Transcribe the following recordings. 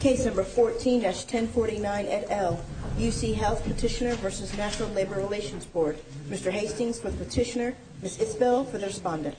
Case No. 14-1049 et al., UC Health Petitioner v. National Labor Relations Board Mr. Hastings for the petitioner, Ms. Isbell for the respondent. Case No. 14-1049 et al., UC Health Petitioner v. National Labor Relations Board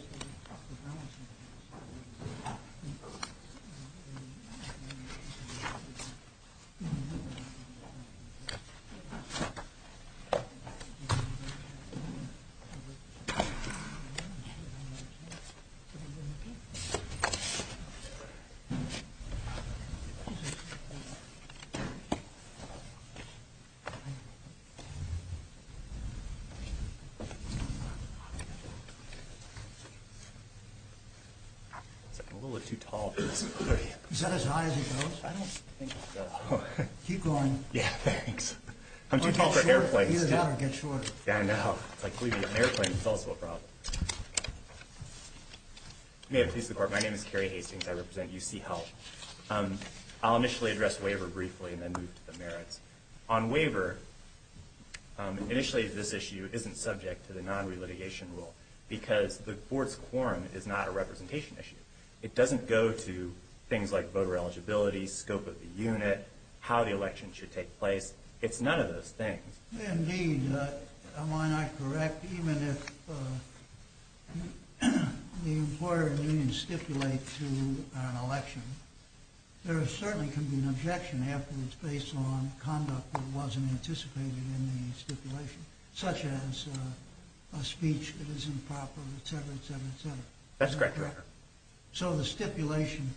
I'll initially address waiver briefly and then move to the merits. On waiver, initially this issue isn't subject to the non-relitigation rule, because the board's quorum is not a representation issue. It doesn't go to things like voter eligibility, scope of the unit, how the election should take place. It's none of those things. Indeed, am I not correct, even if the employer and the union stipulate to an election, there certainly can be an objection afterwards based on conduct that wasn't anticipated in the stipulation, such as a speech that is improper, etc., etc., etc. That's correct, Your Honor. So the stipulation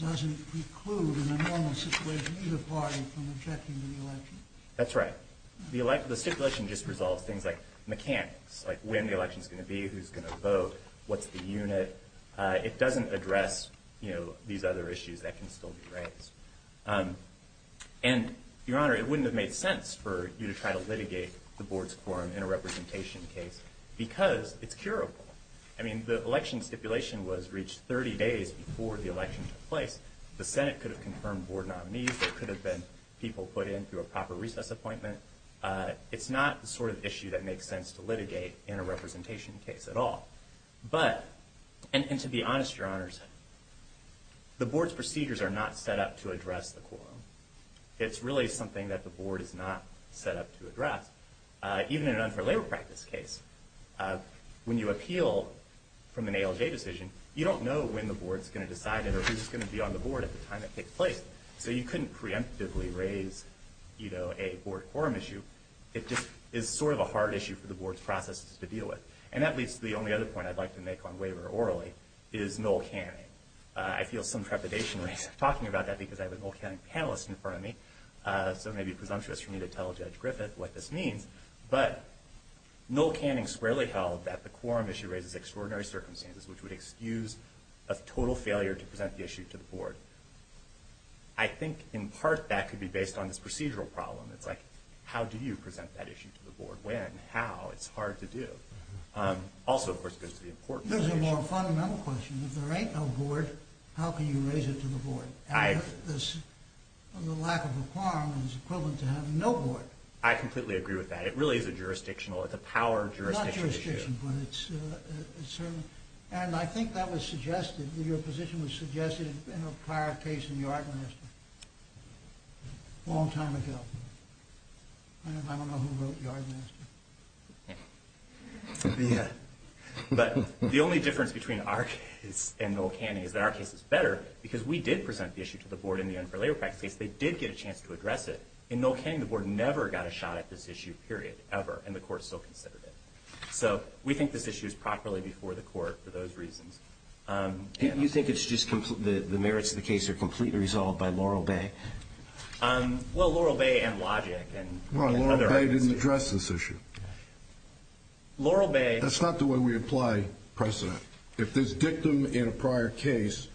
doesn't preclude in a normal situation either party from objecting to the election. That's right. The stipulation just resolves things like mechanics, like when the election's going to be, who's going to vote, what's the unit. It doesn't address these other issues that can still be raised. And, Your Honor, it wouldn't have made sense for you to try to litigate the board's quorum in a representation case because it's curable. I mean, the election stipulation was reached 30 days before the election took place. The Senate could have confirmed board nominees. There could have been people put in through a proper recess appointment. It's not the sort of issue that makes sense to litigate in a representation case at all. But, and to be honest, Your Honors, the board's procedures are not set up to address the quorum. It's really something that the board is not set up to address. Even in an unfair labor practice case, when you appeal from an ALJ decision, you don't know when the board's going to decide it or who's going to be on the board at the time it takes place. So you couldn't preemptively raise, you know, a board quorum issue. It just is sort of a hard issue for the board's processes to deal with. And that leads to the only other point I'd like to make on waiver orally is null canning. I feel some trepidation when I start talking about that because I have a null canning panelist in front of me. So it may be presumptuous for me to tell Judge Griffith what this means. But null canning squarely held that the quorum issue raises extraordinary circumstances, which would excuse a total failure to present the issue to the board. I think, in part, that could be based on this procedural problem. It's like, how do you present that issue to the board? When? How? It's hard to do. Also, of course, goes to the importance of the issue. There's a more fundamental question. If there ain't no board, how can you raise it to the board? And if the lack of a quorum is equivalent to having no board. I completely agree with that. It really is a jurisdictional, it's a power jurisdiction issue. And I think that was suggested, your position was suggested in a prior case in Yardmaster. A long time ago. I don't know who wrote Yardmaster. But the only difference between our case and null canning is that our case is better because we did present the issue to the board in the unfair labor practice case. They did get a chance to address it. In null canning, the board never got a shot at this issue, period. Ever. And the court still considered it. So we think this issue is properly before the court for those reasons. You think it's just the merits of the case are completely resolved by Laurel Bay? Well, Laurel Bay and Logic. No, Laurel Bay didn't address this issue. That's not the way we apply precedent. If there's dictum in a prior case,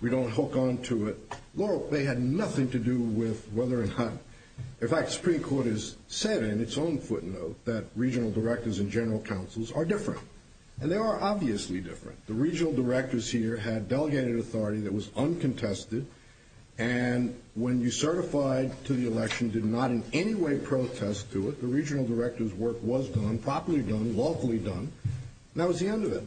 we don't hook onto it. Laurel Bay had nothing to do with whether or not, In fact, the Supreme Court has said in its own footnote that regional directors and general counsels are different. And they are obviously different. The regional directors here had delegated authority that was uncontested. And when you certified to the election, did not in any way protest to it. The regional director's work was done, properly done, lawfully done. And that was the end of it.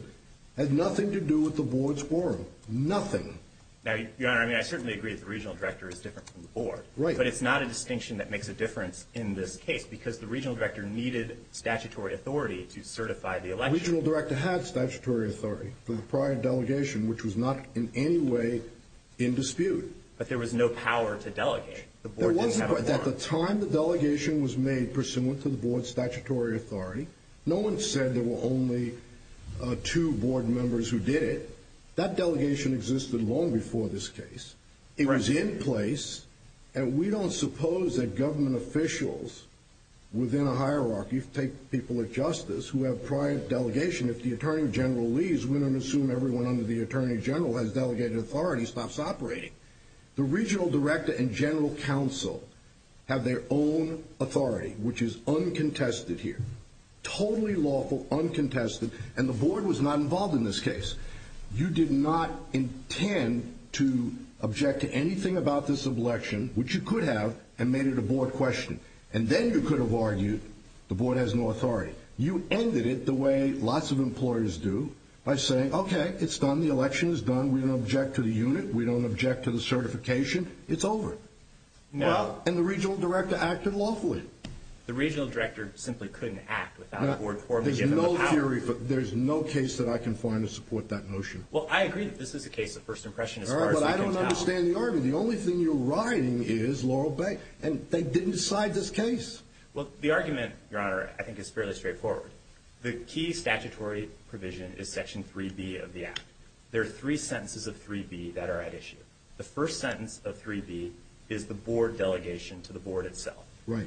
Had nothing to do with the board's forum. Nothing. Now, Your Honor, I mean, I certainly agree that the regional director is different from the board. But it's not a distinction that makes a difference in this case because the regional director needed statutory authority to certify the election. The regional director had statutory authority for the prior delegation, which was not in any way in dispute. But there was no power to delegate. At the time, the delegation was made pursuant to the board's statutory authority. No one said there were only two board members who did it. That delegation existed long before this case. It was in place. And we don't suppose that government officials within a hierarchy take people of justice who have prior delegation, if the attorney general leaves, we don't assume everyone under the attorney general has delegated authority, stops operating. The regional director and general counsel have their own authority, which is uncontested here. Totally lawful, uncontested. And the board was not involved in this case. You did not intend to object to anything about this election, which you could have, and made it a board question. And then you could have argued the board has no authority. You ended it the way lots of employers do by saying, okay, it's done, the election is done, we don't object to the unit, we don't object to the certification, it's over. And the regional director acted lawfully. The regional director simply couldn't act without the board's permission. There's no case that I can find to support that notion. Well, I agree that this is a case of first impression as far as I can tell. All right, but I don't understand the argument. The only thing you're writing is Laurel Bay, and they didn't decide this case. Well, the argument, Your Honor, I think is fairly straightforward. The key statutory provision is Section 3B of the Act. There are three sentences of 3B that are at issue. The first sentence of 3B is the board delegation to the board itself.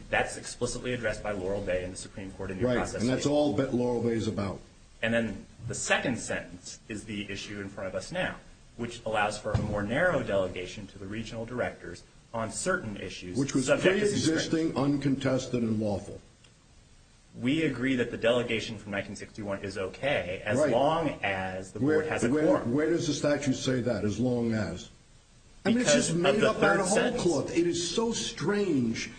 That's explicitly addressed by Laurel Bay and the Supreme Court in the process. And that's all that Laurel Bay is about. And then the second sentence is the issue in front of us now, which allows for a more narrow delegation to the regional directors on certain issues. Which was pre-existing, uncontested, and lawful. We agree that the delegation from 1961 is okay as long as the board has a quorum. Where does the statute say that, as long as? Because of the third sentence. I mean, it's just made up out of whole cloth. It is so strange.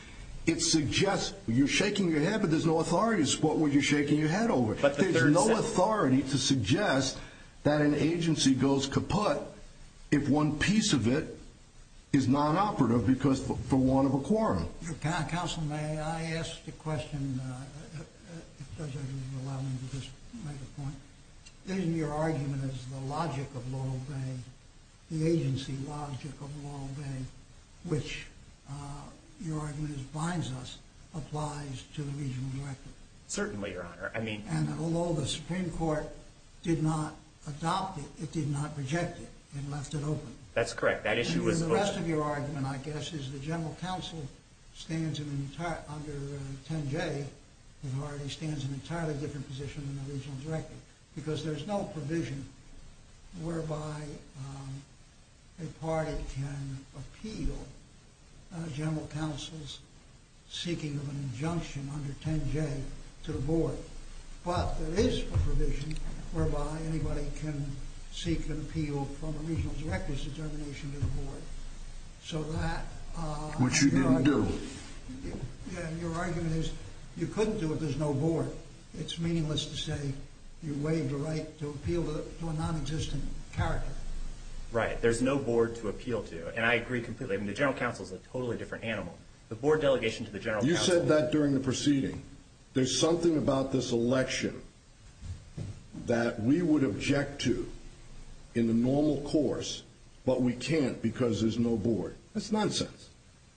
It suggests you're shaking your head, but there's no authority to support what you're shaking your head over. There's no authority to suggest that an agency goes kaput if one piece of it is non-operative because for want of a quorum. Counsel, may I ask a question? If Judge Ogilvie will allow me to just make a point. Isn't your argument as the logic of Laurel Bay, the agency logic of Laurel Bay, which your argument binds us, applies to the regional director? Certainly, Your Honor. And although the Supreme Court did not adopt it, it did not reject it. It left it open. That's correct. And the rest of your argument, I guess, is the general counsel stands under 10J, the authority, stands in an entirely different position than the regional director. Because there's no provision whereby a party can appeal a general counsel's seeking of an injunction under 10J to the board. But there is a provision whereby anybody can seek an appeal from a regional director's determination to the board. So that... Which you didn't do. And your argument is you couldn't do it if there's no board. It's meaningless to say you waived a right to appeal to a non-existent character. Right. There's no board to appeal to. And I agree completely. I mean, the general counsel is a totally different animal. The board delegation to the general counsel... You said that during the proceeding. There's something about this election that we would object to in the normal course, but we can't because there's no board. That's nonsense.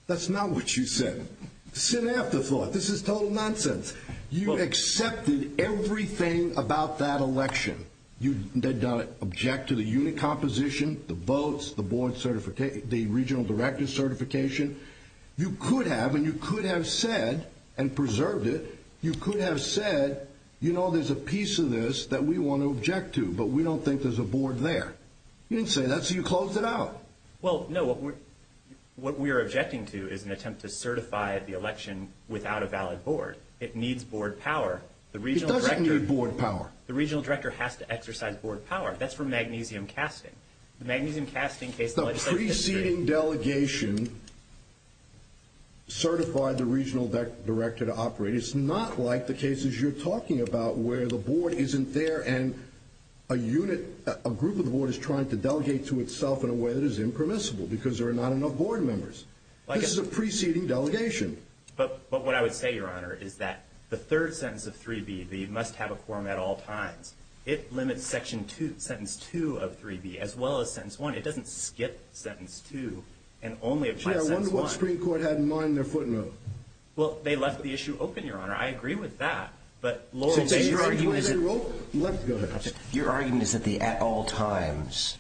That's not what you said. Sin after thought. This is total nonsense. You accepted everything about that election. You did not object to the unit composition, the votes, the board certification, the regional director certification. You could have, and you could have said and preserved it, you could have said, you know, there's a piece of this that we want to object to, but we don't think there's a board there. You didn't say that, so you closed it out. Well, no. What we are objecting to is an attempt to certify the election without a valid board. It needs board power. It doesn't need board power. The regional director has to exercise board power. That's for magnesium casting. Preceding delegation certified the regional director to operate. It's not like the cases you're talking about where the board isn't there and a group of the board is trying to delegate to itself in a way that is impermissible because there are not enough board members. This is a preceding delegation. But what I would say, Your Honor, is that the third sentence of 3B, the must have a quorum at all times, it limits section 2, sentence 2 of 3B, as well as sentence 1. It doesn't skip sentence 2 and only apply sentence 1. Yeah, I wonder what the Supreme Court had in mind in their footnote. Well, they left the issue open, Your Honor. I agree with that. But Laurel Bay's argument is that the at all times,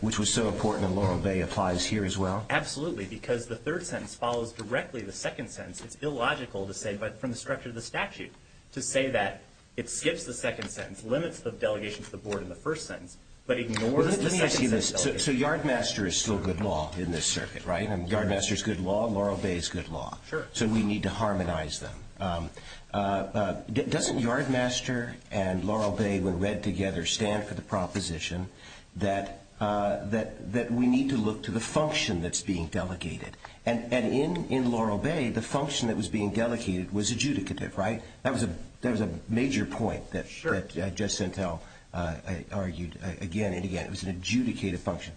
which was so important in Laurel Bay, applies here as well? Absolutely, because the third sentence follows directly the second sentence. It's illogical to say from the structure of the statute to say that it skips the second sentence, limits the delegation to the board in the first sentence, but ignores the second sentence delegation. So Yardmaster is still good law in this circuit, right? Yardmaster is good law and Laurel Bay is good law. Sure. So we need to harmonize them. Doesn't Yardmaster and Laurel Bay, when read together, stand for the proposition that we need to look to the function that's being delegated? And in Laurel Bay, the function that was being delegated was adjudicative, right? That was a major point that Judge Sentel argued again and again. It was an adjudicative function.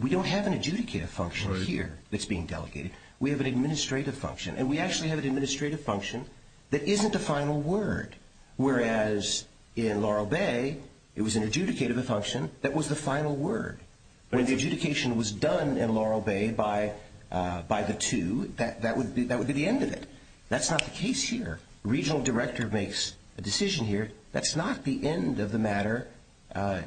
We don't have an adjudicative function here that's being delegated. We have an administrative function. And we actually have an administrative function that isn't a final word, whereas in Laurel Bay, it was an adjudicative function that was the final word. When the adjudication was done in Laurel Bay by the two, that would be the end of it. That's not the case here. Regional director makes a decision here. That's not the end of the matter, at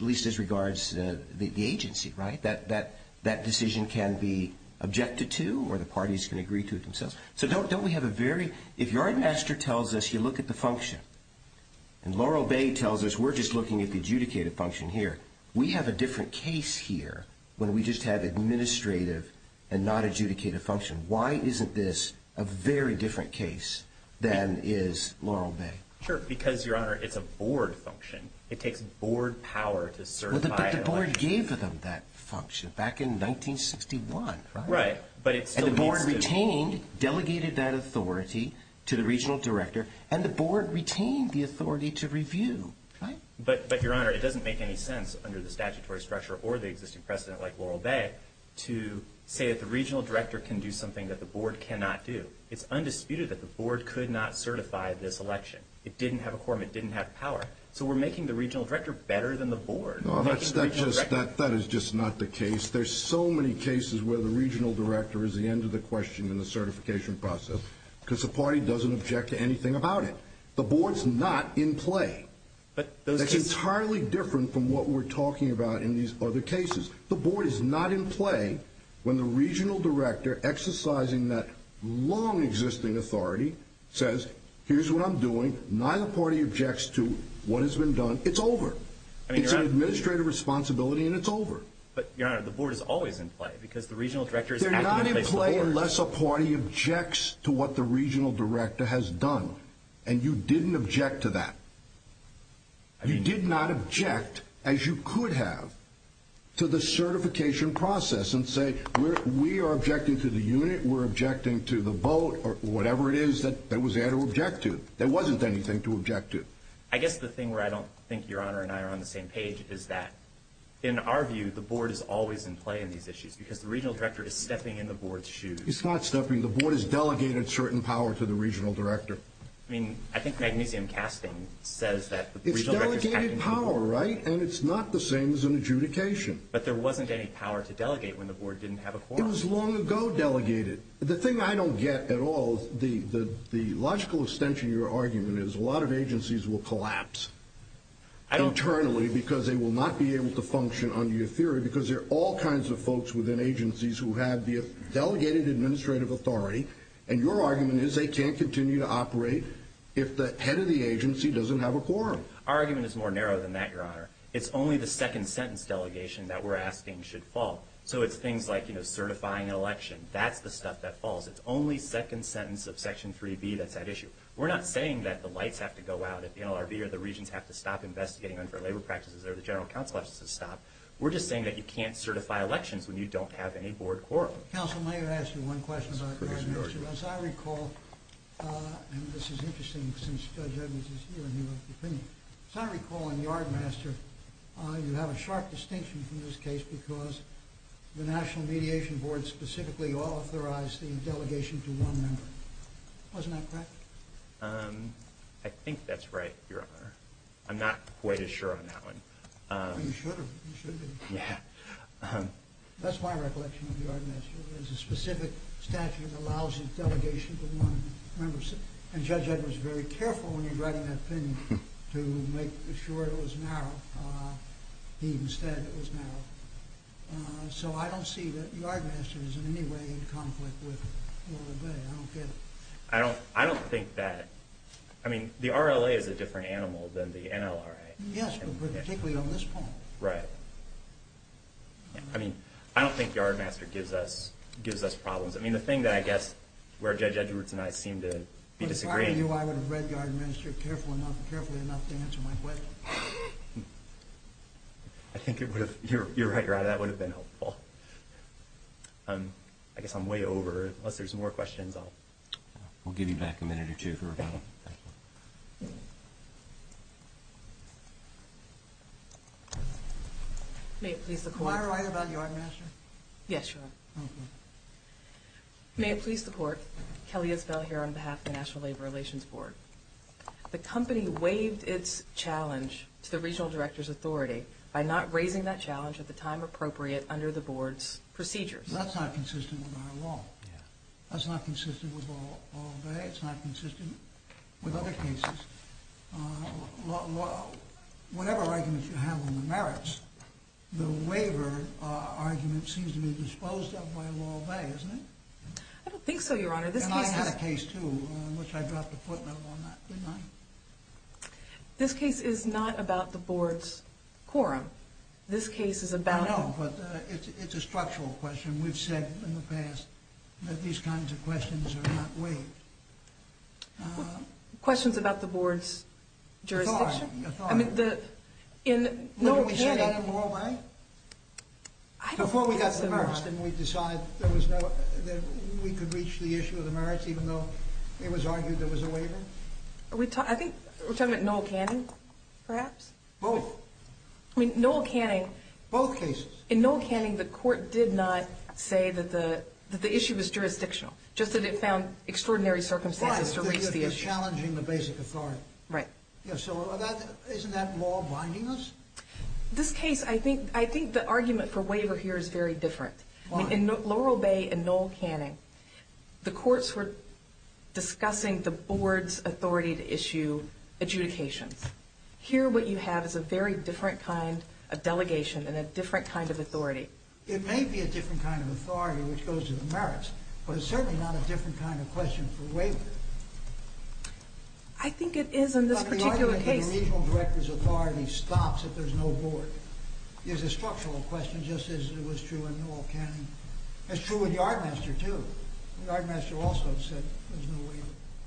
least as regards the agency, right? That decision can be objected to or the parties can agree to it themselves. So don't we have a very – if Yardmaster tells us you look at the function and Laurel Bay tells us we're just looking at the adjudicative function here, we have a different case here when we just have administrative and not adjudicative function. Why isn't this a very different case than is Laurel Bay? Sure, because, Your Honor, it's a board function. It takes board power to certify. But the board gave them that function back in 1961, right? Right. And the board retained, delegated that authority to the regional director, and the board retained the authority to review, right? But, Your Honor, it doesn't make any sense under the statutory structure or the existing precedent like Laurel Bay to say that the regional director can do something that the board cannot do. It's undisputed that the board could not certify this election. It didn't have a quorum. It didn't have power. So we're making the regional director better than the board. That is just not the case. There's so many cases where the regional director is the end of the question in the certification process because the party doesn't object to anything about it. The board's not in play. It's entirely different from what we're talking about in these other cases. The board is not in play when the regional director, exercising that long-existing authority, says, here's what I'm doing. Neither party objects to what has been done. It's over. It's an administrative responsibility, and it's over. But, Your Honor, the board is always in play because the regional director is acting in place of the board. Unless a party objects to what the regional director has done, and you didn't object to that. You did not object, as you could have, to the certification process and say, we are objecting to the unit, we're objecting to the vote, or whatever it is that was there to object to. There wasn't anything to object to. I guess the thing where I don't think Your Honor and I are on the same page is that, in our view, the board is always in play in these issues because the regional director is stepping in the board's shoes. It's not stepping. The board has delegated certain power to the regional director. I mean, I think magnesium casting says that the regional director is acting to the board. It's delegated power, right? And it's not the same as an adjudication. But there wasn't any power to delegate when the board didn't have a quorum. It was long ago delegated. The thing I don't get at all, the logical extension of your argument is a lot of agencies will collapse internally because they will not be able to function under your theory because there are all kinds of folks within agencies who have delegated administrative authority. And your argument is they can't continue to operate if the head of the agency doesn't have a quorum. Our argument is more narrow than that, Your Honor. It's only the second sentence delegation that we're asking should fall. So it's things like certifying an election. That's the stuff that falls. It's only second sentence of section 3B that's at issue. We're not saying that the lights have to go out, that the NLRB or the regents have to stop investigating them for labor practices or the general counsel has to stop. We're just saying that you can't certify elections when you don't have any board quorum. Counsel, may I ask you one question about yardmaster? As I recall, and this is interesting since Judge Edmunds is here and he wrote the opinion. As I recall on yardmaster, you have a sharp distinction from this case because the National Mediation Board specifically authorized the delegation to one member. Wasn't that correct? I think that's right, Your Honor. I'm not quite as sure on that one. You should be. Yeah. That's my recollection of yardmaster. There's a specific statute that allows the delegation to one member. And Judge Edmunds was very careful when he was writing that opinion to make sure it was narrow. He instead said it was narrow. So I don't see that yardmaster is in any way in conflict with the NLRB. I don't get it. I don't think that. I mean, the RLA is a different animal than the NLRA. Yes, but particularly on this point. Right. I mean, I don't think yardmaster gives us problems. I mean, the thing that I guess where Judge Edmunds and I seem to be disagreeing. If I were you, I would have read yardmaster carefully enough to answer my question. I think it would have. You're right, Your Honor. That would have been helpful. I guess I'm way over. Unless there's more questions, I'll... We'll give you back a minute or two for rebuttal. Thank you. May it please the Court. Can I write about yardmaster? Yes, Your Honor. Okay. May it please the Court, Kelly Isbell here on behalf of the National Labor Relations Board. The company waived its challenge to the regional director's authority by not raising that challenge at the time appropriate under the board's procedures. That's not consistent with our law. Yeah. That's not consistent with Law of the Bay. It's not consistent with other cases. Whatever arguments you have on the merits, the waiver argument seems to be disposed of by Law of the Bay, isn't it? I don't think so, Your Honor. This case is... And I had a case, too, in which I dropped a footnote on that, didn't I? This case is not about the board's quorum. This case is about... I know, but it's a structural question. We've said in the past that these kinds of questions are not waived. Questions about the board's jurisdiction? Authority. I mean, in Noel Canning... Didn't we say that in Morro Bay? I don't think so, Your Honor. Before we got submerged and we decided that we could reach the issue of the merits even though it was argued there was a waiver? I think we're talking about Noel Canning, perhaps? Both. I mean, Noel Canning... Both cases. In Noel Canning, the court did not say that the issue was jurisdictional, just that it found extraordinary circumstances to raise the issue. Right, that you're challenging the basic authority. Right. So isn't that law-bindingness? This case, I think the argument for waiver here is very different. In Laurel Bay and Noel Canning, the courts were discussing the board's authority to issue adjudications. Here what you have is a very different kind of delegation and a different kind of authority. It may be a different kind of authority which goes to the merits, but it's certainly not a different kind of question for waiver. I think it is in this particular case. But the argument that the regional director's authority stops if there's no board is a structural question just as it was true in Noel Canning. It's true with Yardmaster, too. Yardmaster also said there's no waiver.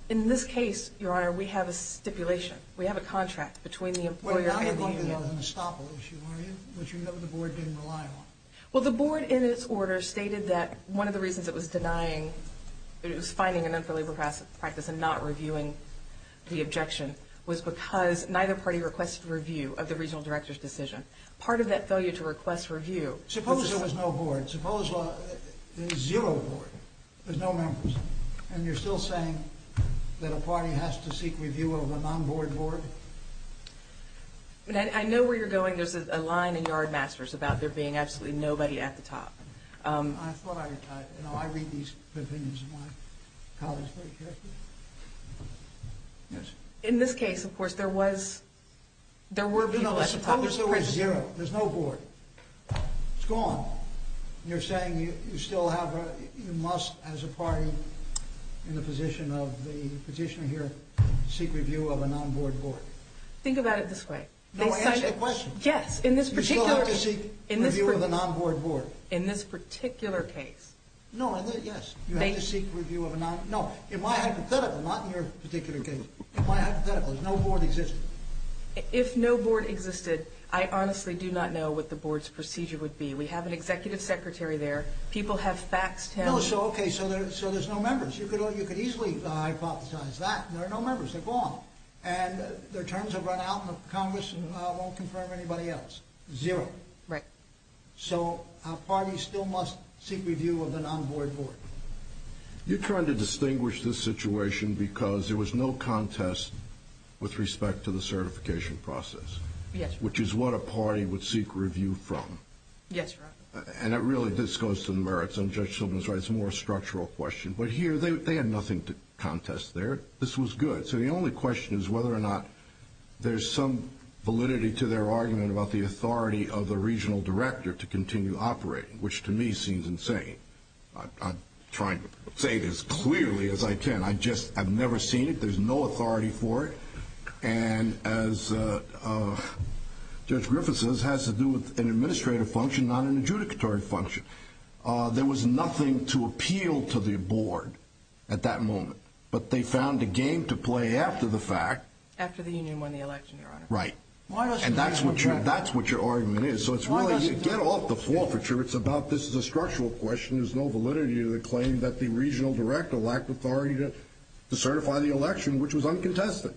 In this case, Your Honor, we have a stipulation. We have a contract between the employer and the union. Well, now you're going to stop an issue, aren't you, which the board didn't rely on? Well, the board in its order stated that one of the reasons it was denying that it was finding an unfavorable practice and not reviewing the objection was because neither party requested review of the regional director's decision. Part of that failure to request review was this. Suppose there was no board. Suppose there's zero board, there's no members, and you're still saying that a party has to seek review of a non-board board? I know where you're going. There's a line in Yardmaster's about there being absolutely nobody at the top. I thought I read these opinions in my college book. In this case, of course, there were people at the top. Suppose there was zero. There's no board. It's gone. You're saying you must, as a party in the position of the petitioner here, seek review of a non-board board. Think about it this way. No, answer the question. Yes, in this particular case. You still have to seek review of a non-board board. In this particular case. No, yes. You have to seek review of a non-board board. No, in my hypothetical, not in your particular case, in my hypothetical, if no board existed. If no board existed, I honestly do not know what the board's procedure would be. We have an executive secretary there. People have faxed him. Okay, so there's no members. You could easily hypothesize that. There are no members. They're gone. And their terms have run out in the Congress and won't confirm anybody else. Zero. Right. So a party still must seek review of a non-board board. You're trying to distinguish this situation because there was no contest with respect to the certification process. Yes. Which is what a party would seek review from. Yes, Your Honor. And really, this goes to the merits of Judge Silverman's right. It's a more structural question. But here, they had nothing to contest there. This was good. So the only question is whether or not there's some validity to their argument about the authority of the regional director to continue operating, which to me seems insane. I'm trying to say it as clearly as I can. I've never seen it. There's no authority for it. And as Judge Griffiths says, it has to do with an administrative function, not an adjudicatory function. There was nothing to appeal to the board at that moment. But they found a game to play after the fact. After the union won the election, Your Honor. Right. And that's what your argument is. So it's really, you get off the forfeiture. It's about this is a structural question. There's no validity to the claim that the regional director lacked authority to certify the election, which was uncontested.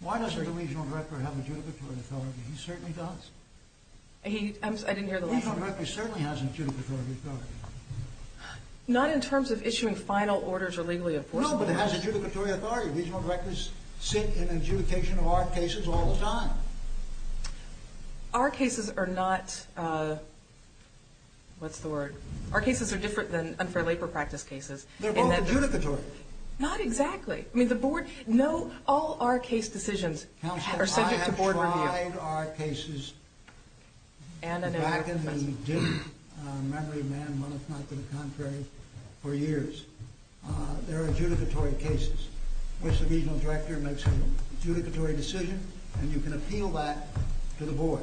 Why doesn't the regional director have adjudicatory authority? He certainly does. I didn't hear the last part. The regional director certainly has adjudicatory authority. Not in terms of issuing final orders or legally enforcing them. No, but it has adjudicatory authority. Regional directors sit in adjudication of our cases all the time. Our cases are not, what's the word? Our cases are different than unfair labor practice cases. They're both adjudicatory. Not exactly. I mean, the board, no, all our case decisions are subject to board review. Counsel, I have tried our cases back in the memory of man, one if not to the contrary, for years. There are adjudicatory cases in which the regional director makes an adjudicatory decision, and you can appeal that to the board.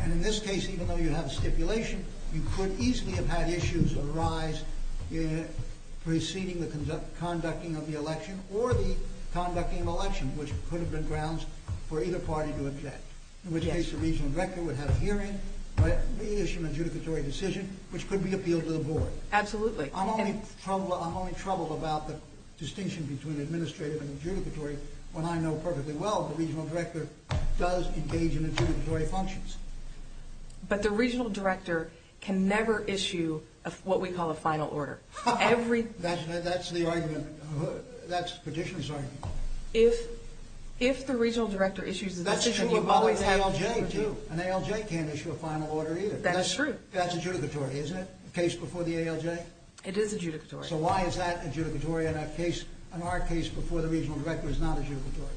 And in this case, even though you have a stipulation, you could easily have had issues arise preceding the conducting of the election, or the conducting of the election, which could have been grounds for either party to object. In which case, the regional director would have a hearing, reissue an adjudicatory decision, which could be appealed to the board. Absolutely. I'm only troubled about the distinction between administrative and adjudicatory, when I know perfectly well the regional director does engage in adjudicatory functions. But the regional director can never issue what we call a final order. That's the argument. That's the petitioner's argument. If the regional director issues a decision, you always have an adjudicatory. That's true of an ALJ, too. An ALJ can't issue a final order, either. That's true. That's adjudicatory, isn't it? The case before the ALJ? It is adjudicatory. So why is that adjudicatory in our case before the regional director is not adjudicatory?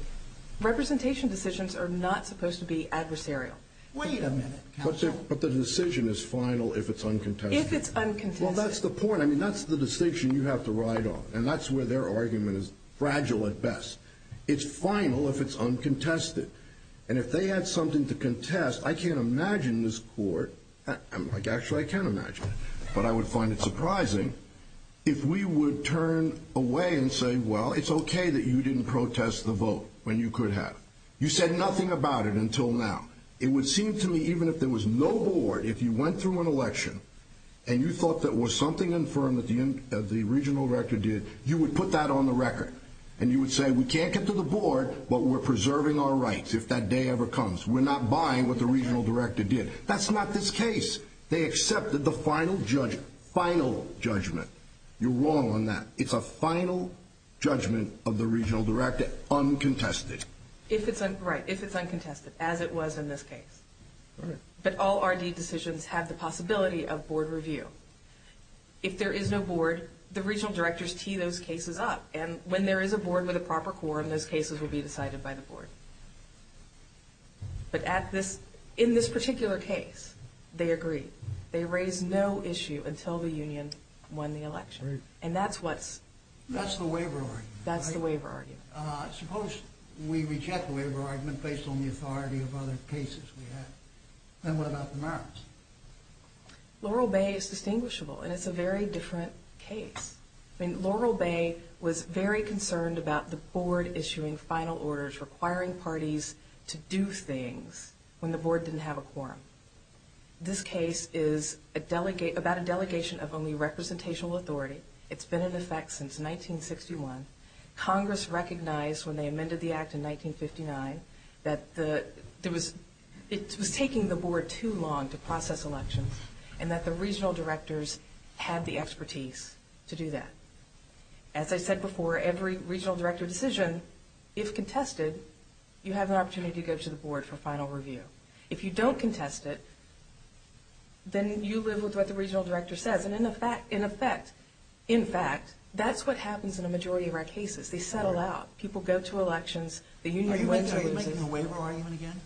Representation decisions are not supposed to be adversarial. Wait a minute, counsel. But the decision is final if it's uncontested. If it's uncontested. Well, that's the point. I mean, that's the distinction you have to ride on. And that's where their argument is fragile at best. It's final if it's uncontested. And if they had something to contest, I can't imagine this court – actually, I can imagine it. But I would find it surprising if we would turn away and say, well, it's okay that you didn't protest the vote when you could have. You said nothing about it until now. It would seem to me even if there was no board, if you went through an election and you thought there was something infirm that the regional director did, you would put that on the record. And you would say, we can't get to the board, but we're preserving our rights if that day ever comes. We're not buying what the regional director did. That's not this case. They accepted the final judgment. Final judgment. You're wrong on that. It's a final judgment of the regional director, uncontested. Right, if it's uncontested, as it was in this case. But all R.D. decisions have the possibility of board review. If there is no board, the regional directors tee those cases up. And when there is a board with a proper quorum, those cases will be decided by the board. But in this particular case, they agreed. They raised no issue until the union won the election. And that's what's... That's the waiver argument. That's the waiver argument. Suppose we reject the waiver argument based on the authority of other cases we have. Then what about the merits? Laurel Bay is distinguishable, and it's a very different case. I mean, Laurel Bay was very concerned about the board issuing final orders, requiring parties to do things when the board didn't have a quorum. This case is about a delegation of only representational authority. It's been in effect since 1961. Congress recognized when they amended the act in 1959 that it was taking the board too long to process elections and that the regional directors had the expertise to do that. As I said before, every regional director decision, if contested, you have an opportunity to go to the board for final review. If you don't contest it, then you live with what the regional director says. And in effect, in fact, that's what happens in a majority of our cases. They settle out. People go to elections. Are you making a waiver argument again?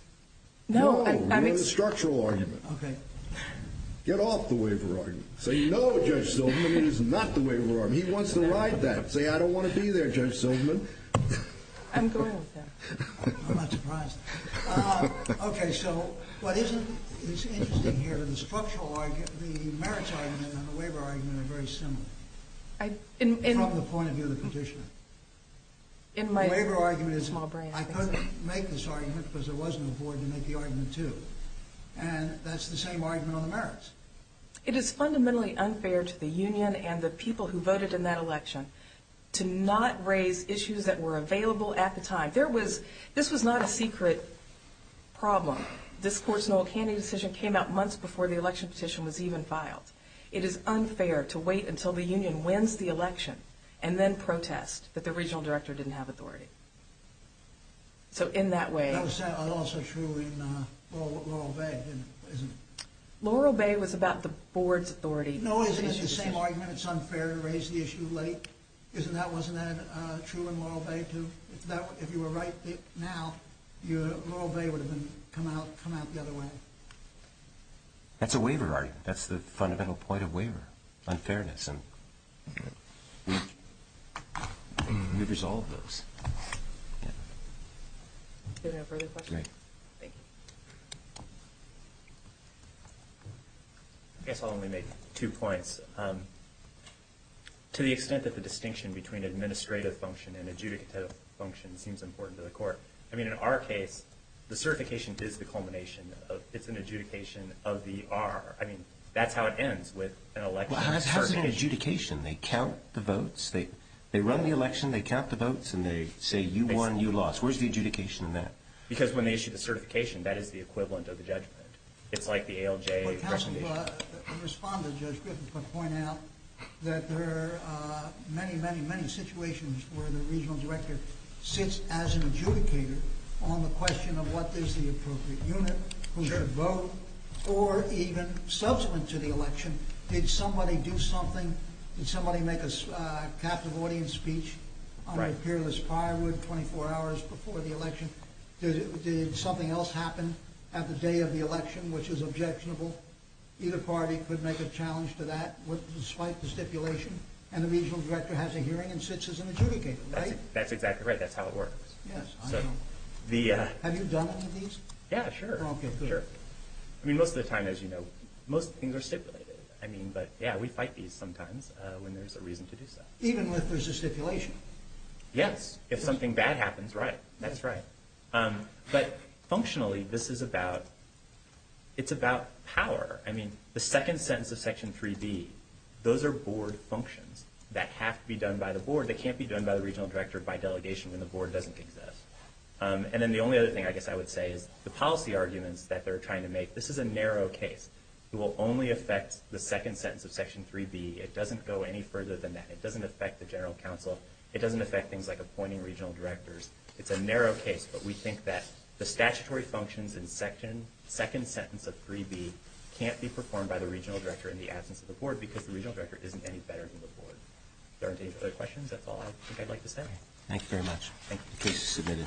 No, I'm making a structural argument. Okay. Get off the waiver argument. Say, no, Judge Silverman, it is not the waiver argument. He wants to ride that. Say, I don't want to be there, Judge Silverman. I'm going with that. I'm not surprised. Okay, so what is interesting here is the merits argument and the waiver argument are very similar. From the point of view of the petitioner. The waiver argument is, I couldn't make this argument because there was no board to make the argument to. And that's the same argument on the merits. It is fundamentally unfair to the union and the people who voted in that election to not raise issues that were available at the time. This was not a secret problem. This Court's Noel Canning decision came out months before the election petition was even filed. It is unfair to wait until the union wins the election and then protest that the regional director didn't have authority. So in that way. That was also true in Laurel Bay, isn't it? Laurel Bay was about the board's authority. No, isn't it? It's the same argument. It's unfair to raise the issue late. Wasn't that true in Laurel Bay too? If you were right now, Laurel Bay would have come out the other way. That's a waiver argument. That's the fundamental point of waiver. Unfairness. And we've resolved those. Do you have any further questions? No. Thank you. I guess I'll only make two points. To the extent that the distinction between administrative function and adjudicative function seems important to the Court. I mean, in our case, the certification is the culmination of it's an adjudication of the R. I mean, that's how it ends with an election. How is it an adjudication? They count the votes. They run the election. They count the votes. And they say, you won, you lost. Where's the adjudication in that? Because when they issue the certification, that is the equivalent of the judgment. It's like the ALJ presentation. The respondent, Judge Griffin, could point out that there are many, many, many situations where the regional director sits as an adjudicator on the question of what is the appropriate unit, who should vote, or even subsequent to the election. Did somebody do something? Did somebody make a captive audience speech on a peerless firewood 24 hours before the election? Did something else happen at the day of the election which is objectionable? Either party could make a challenge to that despite the stipulation. And the regional director has a hearing and sits as an adjudicator, right? That's exactly right. That's how it works. Yes, I know. Have you done any of these? Yeah, sure. I mean, most of the time, as you know, most things are stipulated. I mean, but, yeah, we fight these sometimes when there's a reason to do so. Even if there's a stipulation? Yes. If something bad happens, right. That's right. But functionally, this is about power. I mean, the second sentence of Section 3B, those are board functions that have to be done by the board. They can't be done by the regional director, by delegation, when the board doesn't exist. And then the only other thing I guess I would say is the policy arguments that they're trying to make, this is a narrow case. It will only affect the second sentence of Section 3B. It doesn't go any further than that. It doesn't affect the general counsel. It doesn't affect things like appointing regional directors. It's a narrow case, but we think that the statutory functions in the second sentence of 3B can't be performed by the regional director in the absence of the board because the regional director isn't any better than the board. If there aren't any other questions, that's all I think I'd like to say. Thank you very much. Thank you. Please sit down.